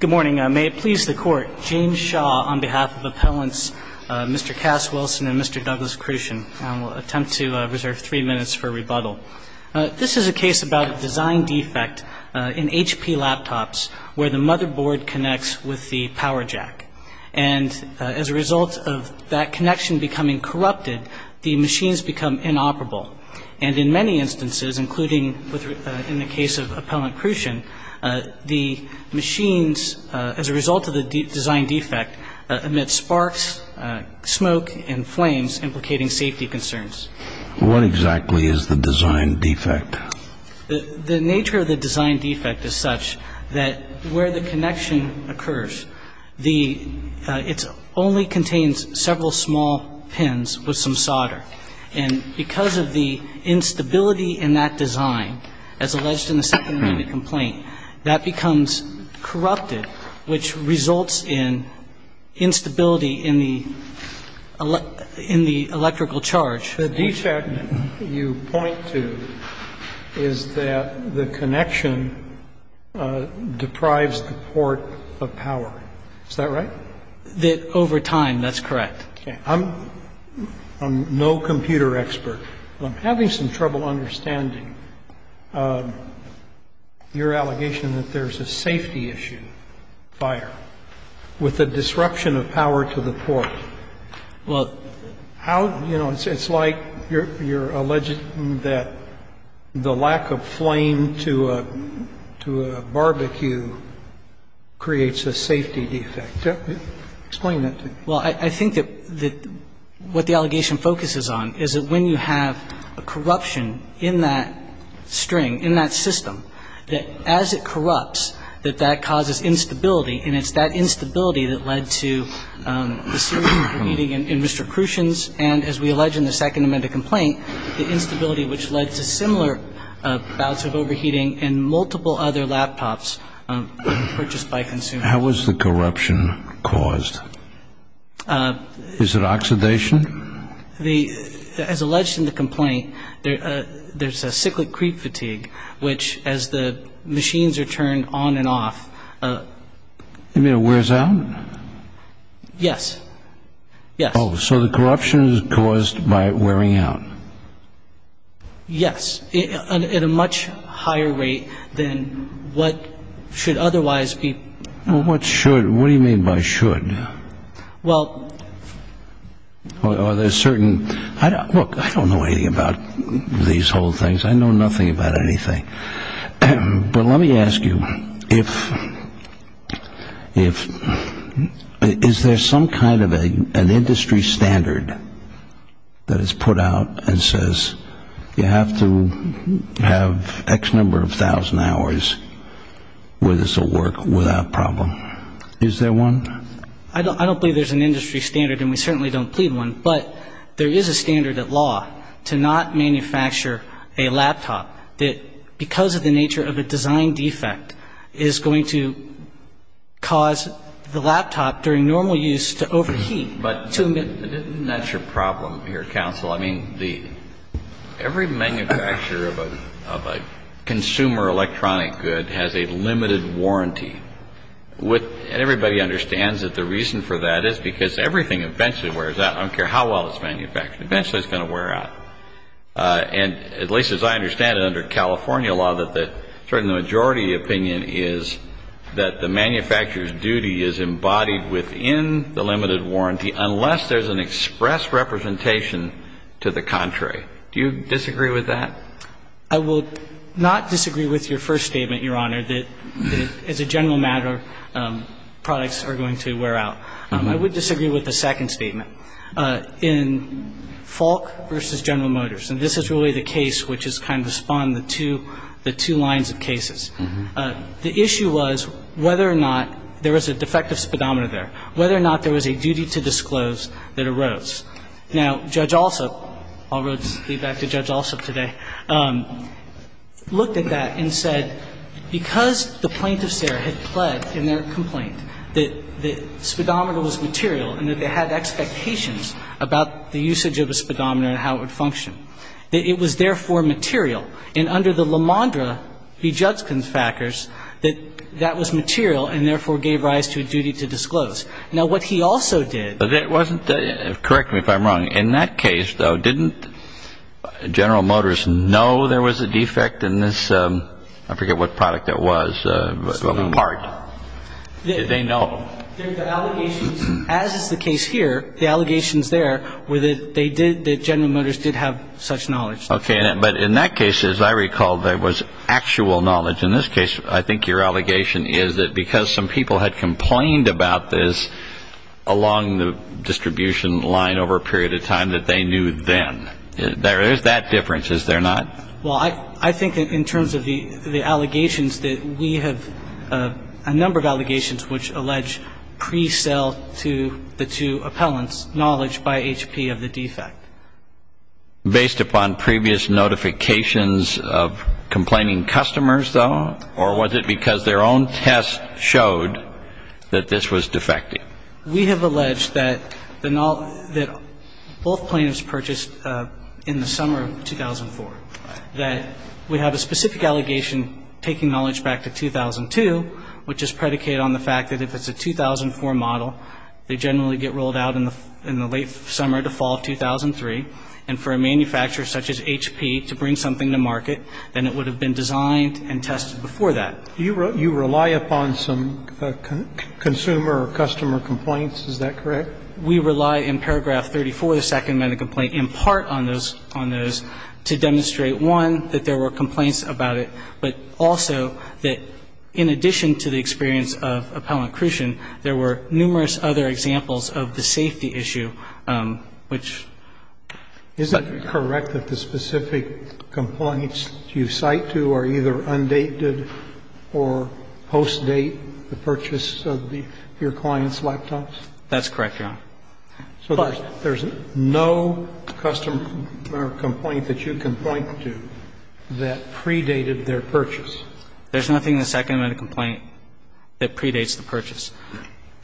Good morning. May it please the Court, James Shaw on behalf of Appellants Mr. Cass Wilson and Mr. Douglas Kruschen. I will attempt to reserve three minutes for rebuttal. This is a case about a design defect in HP laptops where the motherboard connects with the power jack. And as a result of that connection becoming corrupted, the machines become inoperable. And in many instances, including in the case of Appellant Kruschen, the machines, as a result of the design defect, emit sparks, smoke and flames, implicating safety concerns. What exactly is the design defect? The nature of the design defect is such that where the connection occurs, it only contains several small pins with some solder. And because of the instability in that design, as alleged in the second-minute complaint, that becomes corrupted, which results in instability in the electrical charge. The defect you point to is that the connection deprives the port of power. Is that right? Over time, that's correct. Okay. I'm no computer expert, but I'm having some trouble understanding your allegation that there's a safety issue, fire, with the disruption of power to the port. Well, how, you know, it's like you're alleging that the lack of flame to a barbecue creates a safety defect. Explain that to me. Well, I think that what the allegation focuses on is that when you have a corruption in that string, in that system, that as it corrupts, that that causes instability, and it's that instability that led to the series of overheating in Mr. Kruschen's and, as we allege in the second-minute complaint, the instability which led to similar bouts of overheating in multiple other laptops purchased by consumers. How was the corruption caused? Is it oxidation? As alleged in the complaint, there's a cyclic creep fatigue, which, as the machines are turned on and off... You mean it wears out? Yes. Yes. Oh, so the corruption is caused by it wearing out. Yes, at a much higher rate than what should otherwise be... Well, what should? What do you mean by should? Well... Well, are there certain... Look, I don't know anything about these whole things. I know nothing about anything. But let me ask you, if... Is there some kind of an industry standard that is put out and says, you have to have X number of thousand hours where this will work without problem? Is there one? I don't believe there's an industry standard, and we certainly don't plead one, but there is a standard at law to not manufacture a laptop that, because of the nature of a design defect, is going to cause the laptop during normal use to overheat. But isn't that your problem here, counsel? I mean, every manufacturer of a consumer electronic good has a limited warranty. And everybody understands that the reason for that is because everything eventually wears out. I don't care how well it's manufactured, eventually it's going to wear out. And at least as I understand it under California law, the majority opinion is that the manufacturer's duty is embodied within the limited warranty unless there's an express representation to the contrary. Do you disagree with that? I will not disagree with your first statement, Your Honor, that as a general matter, products are going to wear out. I would disagree with the second statement. In Falk v. General Motors, and this is really the case which has kind of spawned the two lines of cases, the issue was whether or not there was a defective speedometer there, whether or not there was a duty to disclose that arose. Now, Judge Alsup, I'll leave that to Judge Alsup today, looked at that and said because the plaintiffs there had pled in their complaint that the speedometer was material and that they had expectations about the usage of a speedometer and how it would function, that it was therefore material. And under the LaMondra v. Judkins factors, that that was material and therefore gave rise to a duty to disclose. Now, what he also did- Correct me if I'm wrong. In that case, though, didn't General Motors know there was a defect in this- I forget what product it was. Part. Did they know? The allegations, as is the case here, the allegations there were that they did, that General Motors did have such knowledge. Okay. But in that case, as I recall, there was actual knowledge. In this case, I think your allegation is that because some people had complained about this along the distribution line over a period of time that they knew then. There is that difference, is there not? Well, I think in terms of the allegations that we have a number of allegations which allege pre-sale to the two appellants' knowledge by HP of the defect. Based upon previous notifications of complaining customers, though, or was it because their own test showed that this was defective? We have alleged that both plaintiffs purchased in the summer of 2004, that we have a specific allegation taking knowledge back to 2002, which is predicated on the fact that if it's a 2004 model, they generally get rolled out in the late summer to fall of 2003. And for a manufacturer such as HP to bring something to market, then it would have been designed and tested before that. Do you rely upon some consumer or customer complaints? Is that correct? We rely in paragraph 34, the second medical complaint, in part on those, on those, to demonstrate, one, that there were complaints about it, but also that in addition to the experience of appellant accretion, there were numerous other examples of the safety issue, which. Isn't it correct that the specific complaints you cite to are either undated or post-date the purchase of the, your client's laptops? That's correct, Your Honor. But. So there's no customer complaint that you can point to that predated their purchase? There's nothing in the second medical complaint that predates the purchase.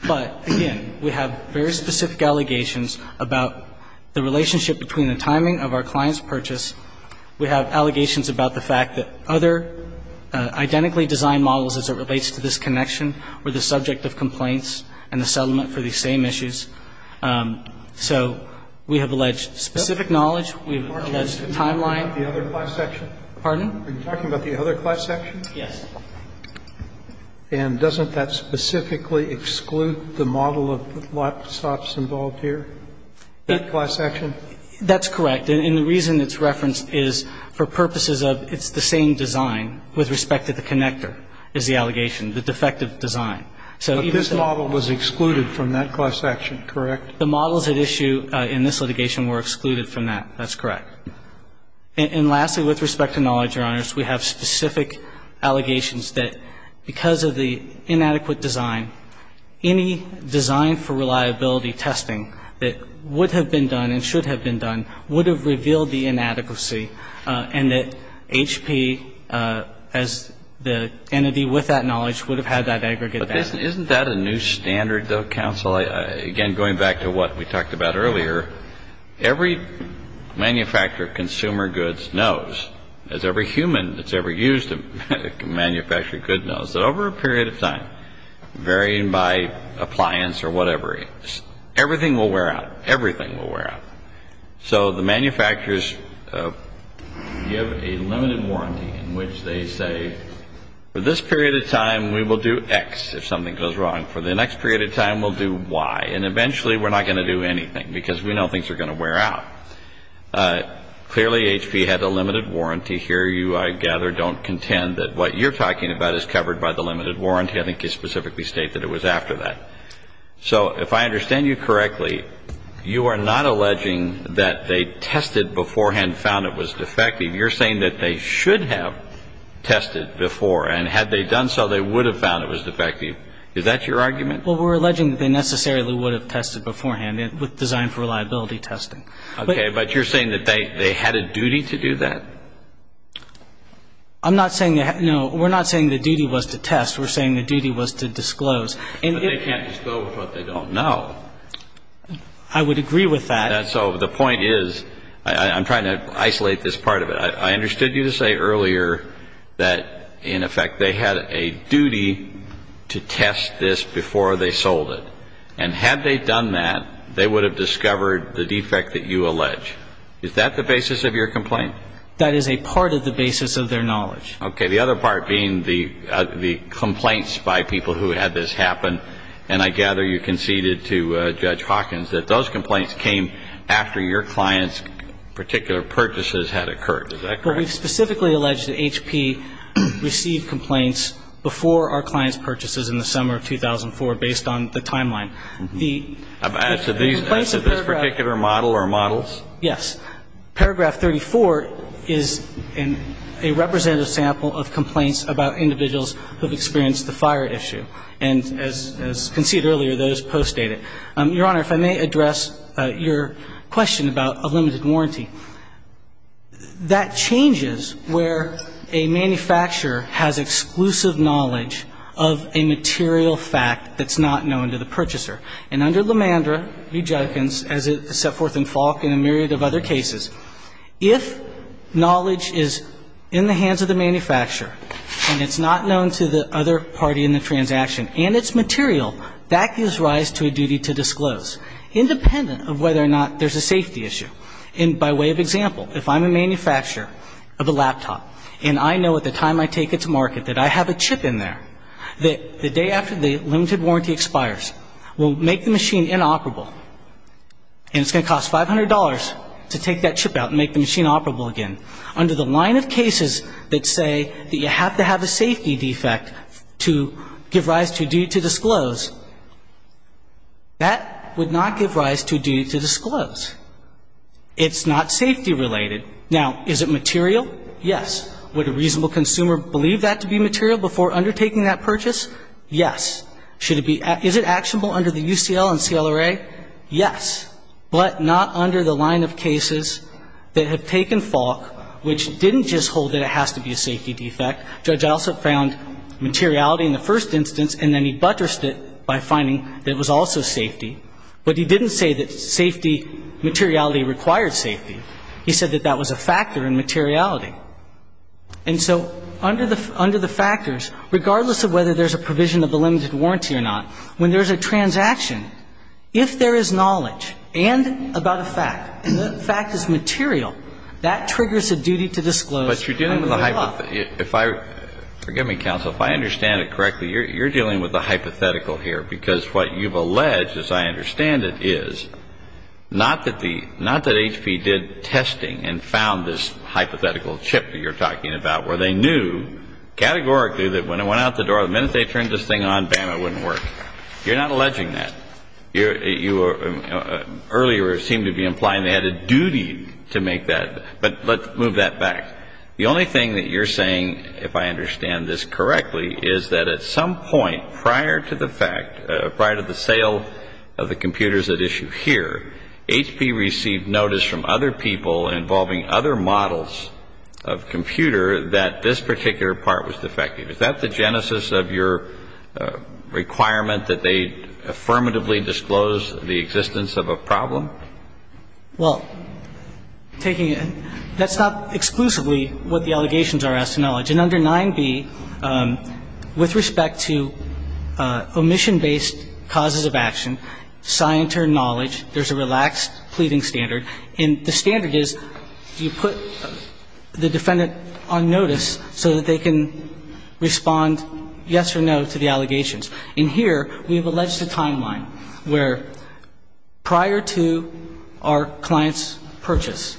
But, again, we have very specific allegations about the relationship between the timing of our client's purchase. We have allegations about the fact that other identically designed models as it relates to this connection were the subject of complaints and the settlement for these same issues. So we have alleged specific knowledge. We have alleged timeline. Are you talking about the other class section? Pardon? Are you talking about the other class section? Yes. And doesn't that specifically exclude the model of laptops involved here, that class section? That's correct. And the reason it's referenced is for purposes of it's the same design with respect to the connector is the allegation, the defective design. But this model was excluded from that class section, correct? The models at issue in this litigation were excluded from that. That's correct. And lastly, with respect to knowledge, Your Honors, we have specific allegations that because of the inadequate design, any design for reliability testing that would have been done and should have been done would have revealed the inadequacy and that HP as the entity with that knowledge would have had that aggregate data. But isn't that a new standard, though, counsel? Again, going back to what we talked about earlier, every manufacturer of consumer goods knows, as every human that's ever used a manufactured good knows, that over a period of time, varying by appliance or whatever, everything will wear out. Everything will wear out. So the manufacturers give a limited warranty in which they say, for this period of time, we will do X if something goes wrong. For the next period of time, we'll do Y. And eventually, we're not going to do anything because we know things are going to wear out. Clearly, HP had a limited warranty here. You, I gather, don't contend that what you're talking about is covered by the limited warranty. I think you specifically state that it was after that. So if I understand you correctly, you are not alleging that they tested beforehand, found it was defective. You're saying that they should have tested before, and had they done so, they would have found it was defective. Is that your argument? Well, we're alleging that they necessarily would have tested beforehand with design for reliability testing. Okay. But you're saying that they had a duty to do that? I'm not saying that, no, we're not saying the duty was to test. We're saying the duty was to disclose. But they can't disclose what they don't know. I would agree with that. So the point is, I'm trying to isolate this part of it. I understood you to say earlier that, in effect, they had a duty to test this before they sold it. And had they done that, they would have discovered the defect that you allege. Is that the basis of your complaint? That is a part of the basis of their knowledge. Okay. The other part being the complaints by people who had this happen. And I gather you conceded to Judge Hawkins that those complaints came after your client's particular purchases had occurred. Is that correct? Well, we've specifically alleged that HP received complaints before our client's purchases in the summer of 2004, based on the timeline. The complaints of paragraph 34. As to this particular model or models? Yes. Paragraph 34 is a representative sample of complaints about individuals who have experienced the fire issue. And as conceded earlier, those postdate it. Your Honor, if I may address your question about a limited warranty. That changes where a manufacturer has exclusive knowledge of a material fact that's not known to the purchaser. And under Lemandra v. Judkins, as it's set forth in Falk and a myriad of other cases, if knowledge is in the hands of the manufacturer and it's not known to the other party in the transaction and its material, that gives rise to a duty to disclose, independent of whether or not there's a safety issue. And by way of example, if I'm a manufacturer of a laptop and I know at the time I take it to market that I have a chip in there, the day after the limited warranty expires, we'll make the machine inoperable. And it's going to cost $500 to take that chip out and make the machine operable again. Under the line of cases that say that you have to have a safety defect to give rise to a duty to disclose, that would not give rise to a duty to disclose. It's not safety related. Now, is it material? Yes. Would a reasonable consumer believe that to be material before undertaking that purchase? Yes. Is it actionable under the UCL and CLRA? Yes. But not under the line of cases that have taken Falk, which didn't just hold that it has to be a safety defect. Judge Alsop found materiality in the first instance, and then he buttressed it by finding that it was also safety. But he didn't say that safety materiality required safety. He said that that was a factor in materiality. And so under the factors, regardless of whether there's a provision of the limited warranty or not, when there's a transaction, if there is knowledge and about a fact, and the fact is material, that triggers a duty to disclose under the law. But you're dealing with a hypothetical. If I – forgive me, counsel. If I understand it correctly, you're dealing with a hypothetical here, because what you've alleged, as I understand it, is not that the – not that HP did testing and found this hypothetical chip that you're talking about where they knew categorically that when it went out the door, the minute they turned this thing on, bam, it wouldn't work. You're not alleging that. You – earlier it seemed to be implying they had a duty to make that. But let's move that back. The only thing that you're saying, if I understand this correctly, is that at some point prior to the fact – prior to the sale of the computers at issue here, HP received notice from other people involving other models of computer that this particular part was defective. Is that the genesis of your requirement that they affirmatively disclose the existence of a problem? Well, taking – that's not exclusively what the allegations are as to knowledge. And under 9b, with respect to omission-based causes of action, scienter knowledge, there's a relaxed pleading standard. And the standard is you put the defendant on notice so that they can respond yes or no to the allegations. And here we have alleged a timeline where prior to our client's purchase,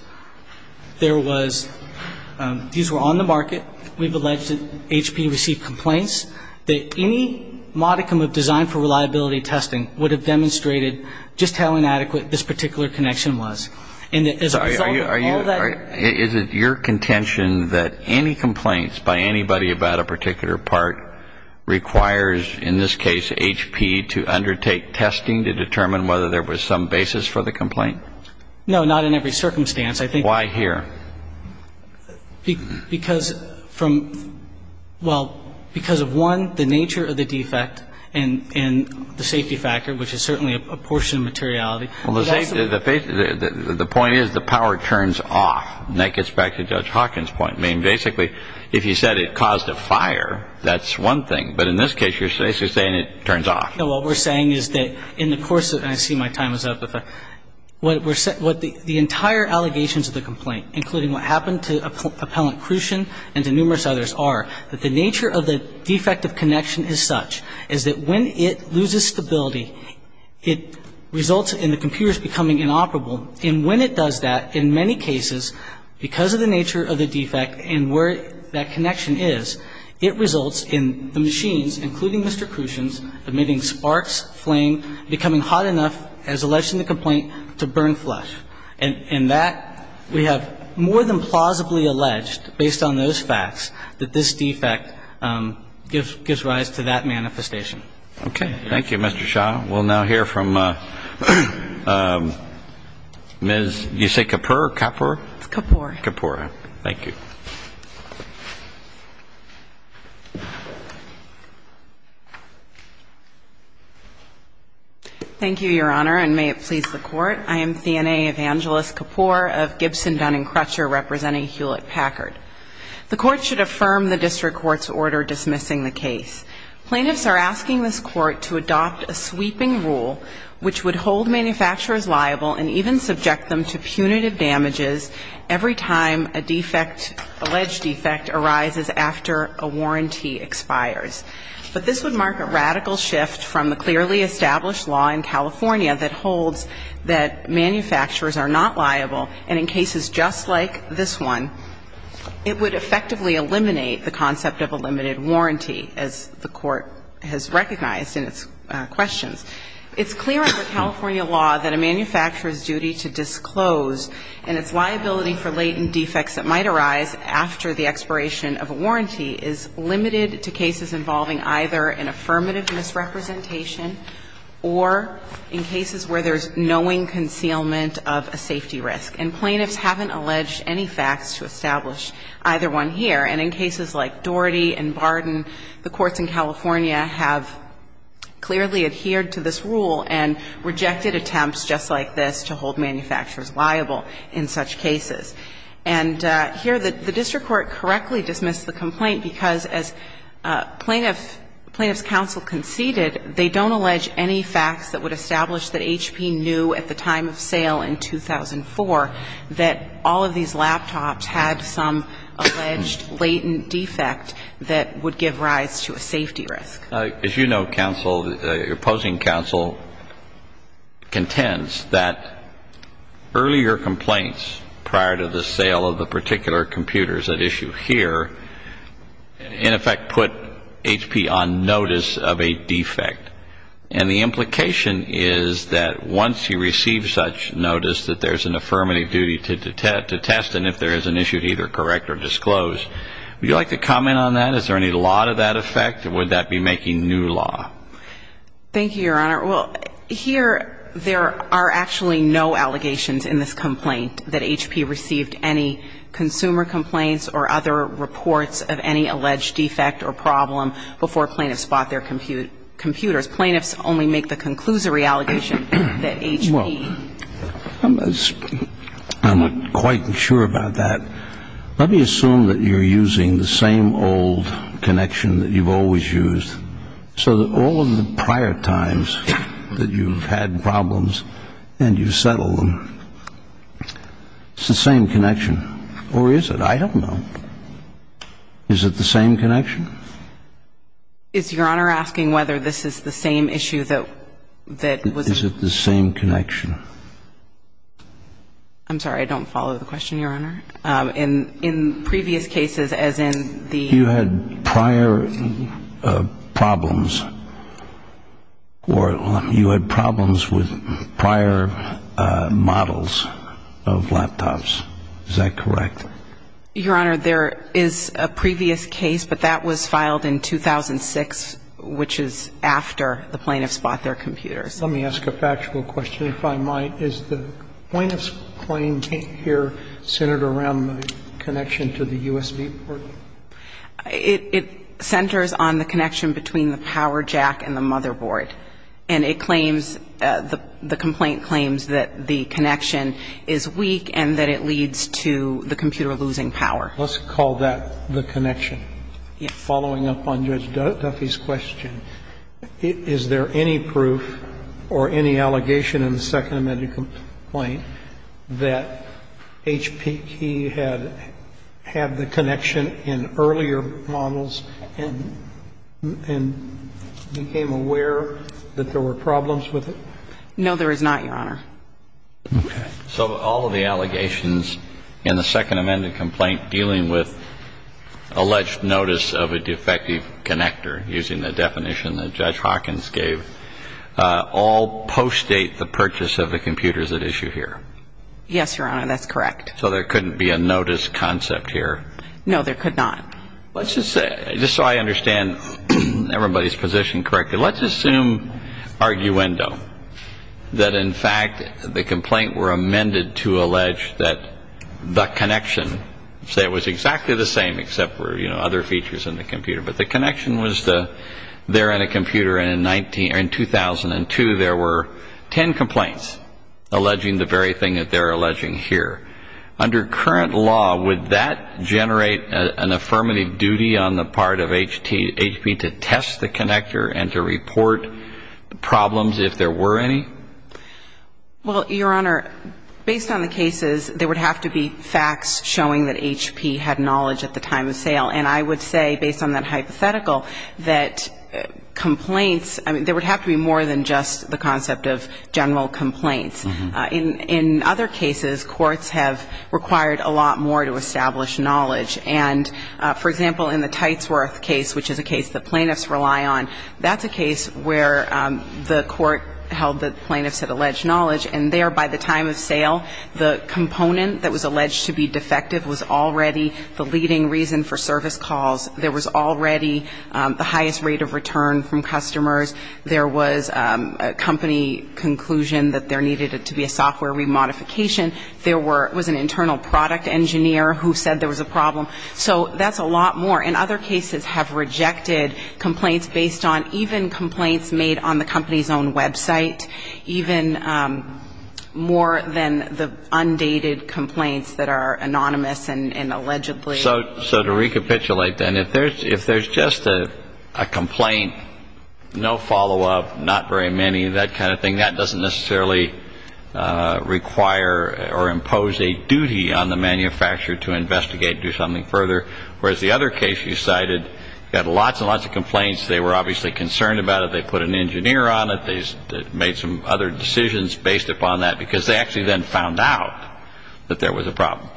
there was – these were on the market. We've alleged that HP received complaints that any modicum of design for reliability testing would have demonstrated just how inadequate this particular connection was. And as a result of all that – I'm sorry. Is it your contention that any complaints by anybody about a particular part requires, in this case, HP to undertake testing to determine whether there was some basis for the complaint? No, not in every circumstance. I think – Why here? Because from – well, because of, one, the nature of the defect and the safety factor, which is certainly a portion of materiality. Well, the safety – the point is the power turns off. And that gets back to Judge Hawkins' point. I mean, basically, if you said it caused a fire, that's one thing. But in this case, you're basically saying it turns off. No, what we're saying is that in the course of – and I see my time is up. What we're – the entire allegations of the complaint, including what happened to Appellant Crucian and to numerous others, are that the nature of the defect of connection is such is that when it loses stability, it results in the computers becoming inoperable. And when it does that, in many cases, because of the nature of the defect and where that connection is, it results in the machines, including Mr. Crucian's, emitting sparks, flame, becoming hot enough, as alleged in the complaint, to burn flesh. And that we have more than plausibly alleged, based on those facts, that this defect gives rise to that manifestation. Okay. Thank you, Mr. Shaw. We'll now hear from Ms. – did you say Kapoor? Kapoor? It's Kapoor. Kapoor. Thank you. Thank you, Your Honor, and may it please the Court. I am Thenae Evangelos-Kapoor of Gibson Dunning Crutcher, representing Hewlett-Packard. The Court should affirm the district court's order dismissing the case. Plaintiffs are asking this Court to adopt a sweeping rule which would hold manufacturers liable and even subject them to punitive damages every time a defect, alleged defect, arises after a warranty expires. But this would mark a radical shift from the clearly established law in California that holds that manufacturers are not liable, and in cases just like this one, it would effectively eliminate the concept of a limited warranty, as the Court has recognized in its questions. It's clear under California law that a manufacturer's duty to disclose and its liability for latent defects that might arise after the expiration of a warranty is limited to cases involving either an affirmative misrepresentation or in cases where there's knowing concealment of a safety risk. And plaintiffs haven't alleged any facts to establish either one here. And in cases like Daugherty and Barden, the courts in California have clearly adhered to this rule and rejected attempts just like this to hold manufacturers liable in such cases. And here, the district court correctly dismissed the complaint because, as plaintiffs counsel conceded, they don't allege any facts that would establish that HP knew at the time of sale in 2004 that all of these laptops had some alleged latent defect that would give rise to a safety risk. As you know, counsel, opposing counsel contends that earlier complaints prior to the sale of the particular computers at issue here, in effect, put HP on notice of a defect. And the implication is that once you receive such notice that there's an affirmative duty to test and if there is an issue, either correct or disclose. Would you like to comment on that? Is there any law to that effect? Or would that be making new law? Thank you, Your Honor. Well, here there are actually no allegations in this complaint that HP received any consumer complaints or other reports of any alleged defect or problem before plaintiffs bought their computers. Plaintiffs only make the conclusory allegation that HP. Well, I'm not quite sure about that. Let me assume that you're using the same old connection that you've always used, so that all of the prior times that you've had problems and you've settled them, it's the same connection. Or is it? I don't know. Is it the same connection? Is Your Honor asking whether this is the same issue that was? Is it the same connection? I'm sorry. I don't follow the question, Your Honor. In previous cases, as in the. You had prior problems or you had problems with prior models of laptops. Is that correct? Your Honor, there is a previous case, but that was filed in 2006, which is after the plaintiffs bought their computers. Let me ask a factual question, if I might. Is the plaintiff's claim here centered around the connection to the USB port? It centers on the connection between the power jack and the motherboard. And it claims, the complaint claims that the connection is weak and that it leads to the computer losing power. Let's call that the connection. Yes. Following up on Judge Duffy's question, is there any proof or any allegation in the Second Amendment complaint that HPT had had the connection in earlier models and became aware that there were problems with it? No, there is not, Your Honor. Okay. So all of the allegations in the Second Amendment complaint dealing with alleged notice of a defective connector, using the definition that Judge Hawkins gave, all postdate the purchase of the computers at issue here? Yes, Your Honor. That's correct. So there couldn't be a notice concept here? No, there could not. Let's just say, just so I understand everybody's position correctly, let's assume arguendo, that in fact the complaint were amended to allege that the connection, say it was exactly the same except for, you know, other features in the computer, but the connection was there in a computer and in 2002 there were ten complaints alleging the very thing that they're alleging here. Under current law, would that generate an affirmative duty on the part of HP to test the connector and to report problems if there were any? Well, Your Honor, based on the cases, there would have to be facts showing that HP had knowledge at the time of sale. And I would say, based on that hypothetical, that complaints, I mean, there would have to be more than just the concept of general complaints. In other cases, courts have required a lot more to establish knowledge. And, for example, in the Tightsworth case, which is a case that plaintiffs rely on, that's a case where the court held that plaintiffs had alleged knowledge and there by the time of sale, the component that was alleged to be defective was already the leading reason for service calls. There was already the highest rate of return from customers. There was a company conclusion that there needed to be a software remodification. There was an internal product engineer who said there was a problem. So that's a lot more. And other cases have rejected complaints based on even complaints made on the company's own website, even more than the undated complaints that are anonymous and allegedly. So to recapitulate, then, if there's just a complaint, no follow-up, not very many, that kind of thing, that doesn't necessarily require or impose a duty on the manufacturer to investigate, do something further, whereas the other case you cited had lots and lots of complaints. They were obviously concerned about it. They put an engineer on it. They made some other decisions based upon that because they actually then found out that there was a problem.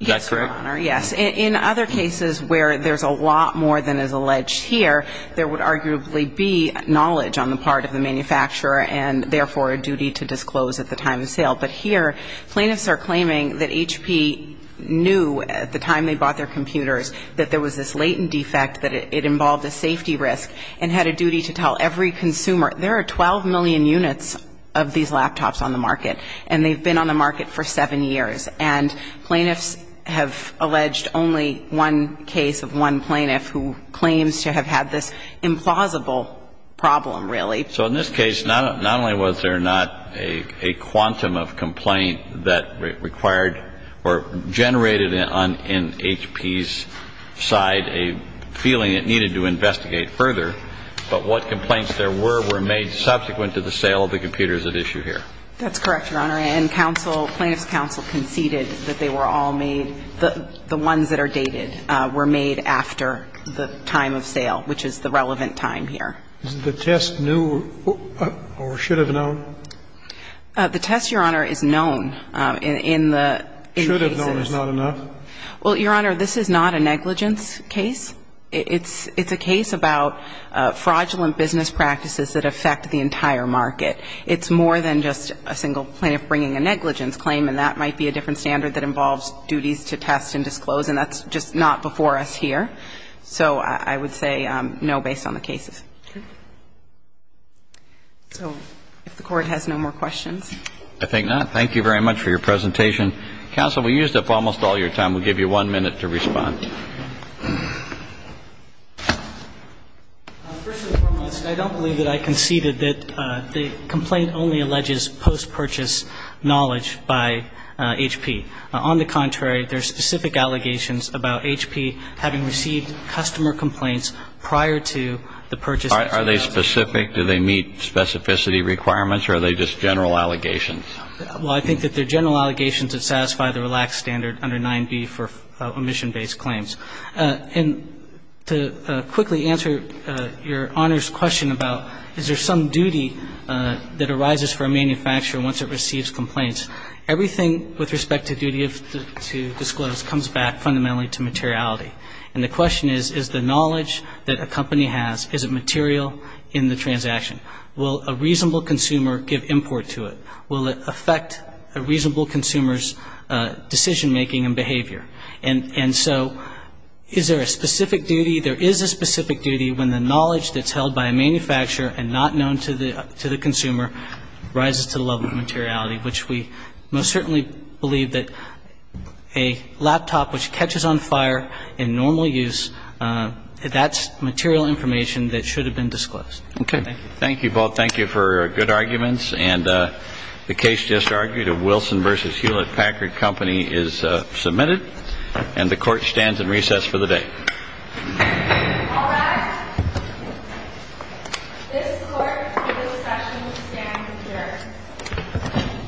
Is that correct? Yes, Your Honor. Yes. In other cases where there's a lot more than is alleged here, there would arguably be knowledge on the part of the manufacturer and, therefore, a duty to disclose at the time of sale. But here plaintiffs are claiming that HP knew at the time they bought their computers that there was this latent defect, that it involved a safety risk, and had a duty to tell every consumer. There are 12 million units of these laptops on the market, and they've been on the market for seven years. And plaintiffs have alleged only one case of one plaintiff who claims to have had this implausible problem, really. So in this case, not only was there not a quantum of complaint that required or generated on HP's side a feeling it needed to investigate further, but what complaints there were were made subsequent to the sale of the computers at issue here. That's correct, Your Honor. And counsel, plaintiffs' counsel conceded that they were all made, the ones that are dated were made after the time of sale, which is the relevant time here. Isn't the test new or should have known? The test, Your Honor, is known in the cases. Should have known is not enough? Well, Your Honor, this is not a negligence case. It's a case about fraudulent business practices that affect the entire market. It's more than just a single plaintiff bringing a negligence claim, and that might be a different standard that involves duties to test and disclose, and that's just not before us here. So I would say no based on the cases. Okay. So if the Court has no more questions. I think not. Thank you very much for your presentation. Counsel, we used up almost all your time. We'll give you one minute to respond. First and foremost, I don't believe that I conceded that the complaint only alleges post-purchase knowledge by HP. On the contrary, there are specific allegations about HP having received customer complaints prior to the purchase. Are they specific? Do they meet specificity requirements, or are they just general allegations? Well, I think that they're general allegations that satisfy the relaxed standard under 9b for omission-based claims. And to quickly answer your Honor's question about is there some duty that arises for a manufacturer once it receives complaints, everything with respect to duty to disclose comes back fundamentally to materiality. And the question is, is the knowledge that a company has, is it material in the transaction? Will a reasonable consumer give import to it? Will it affect a reasonable consumer's decision-making and behavior? And so is there a specific duty? There is a specific duty when the knowledge that's held by a manufacturer and not known to the consumer rises to the level of materiality, which we most certainly believe that a laptop which catches on fire in normal use, that's material information that should have been disclosed. Okay. Thank you both. Thank you for good arguments. And the case just argued of Wilson v. Hewlett-Packard Company is submitted. And the Court stands in recess for the day. All rise. This Court in this session stands adjourned.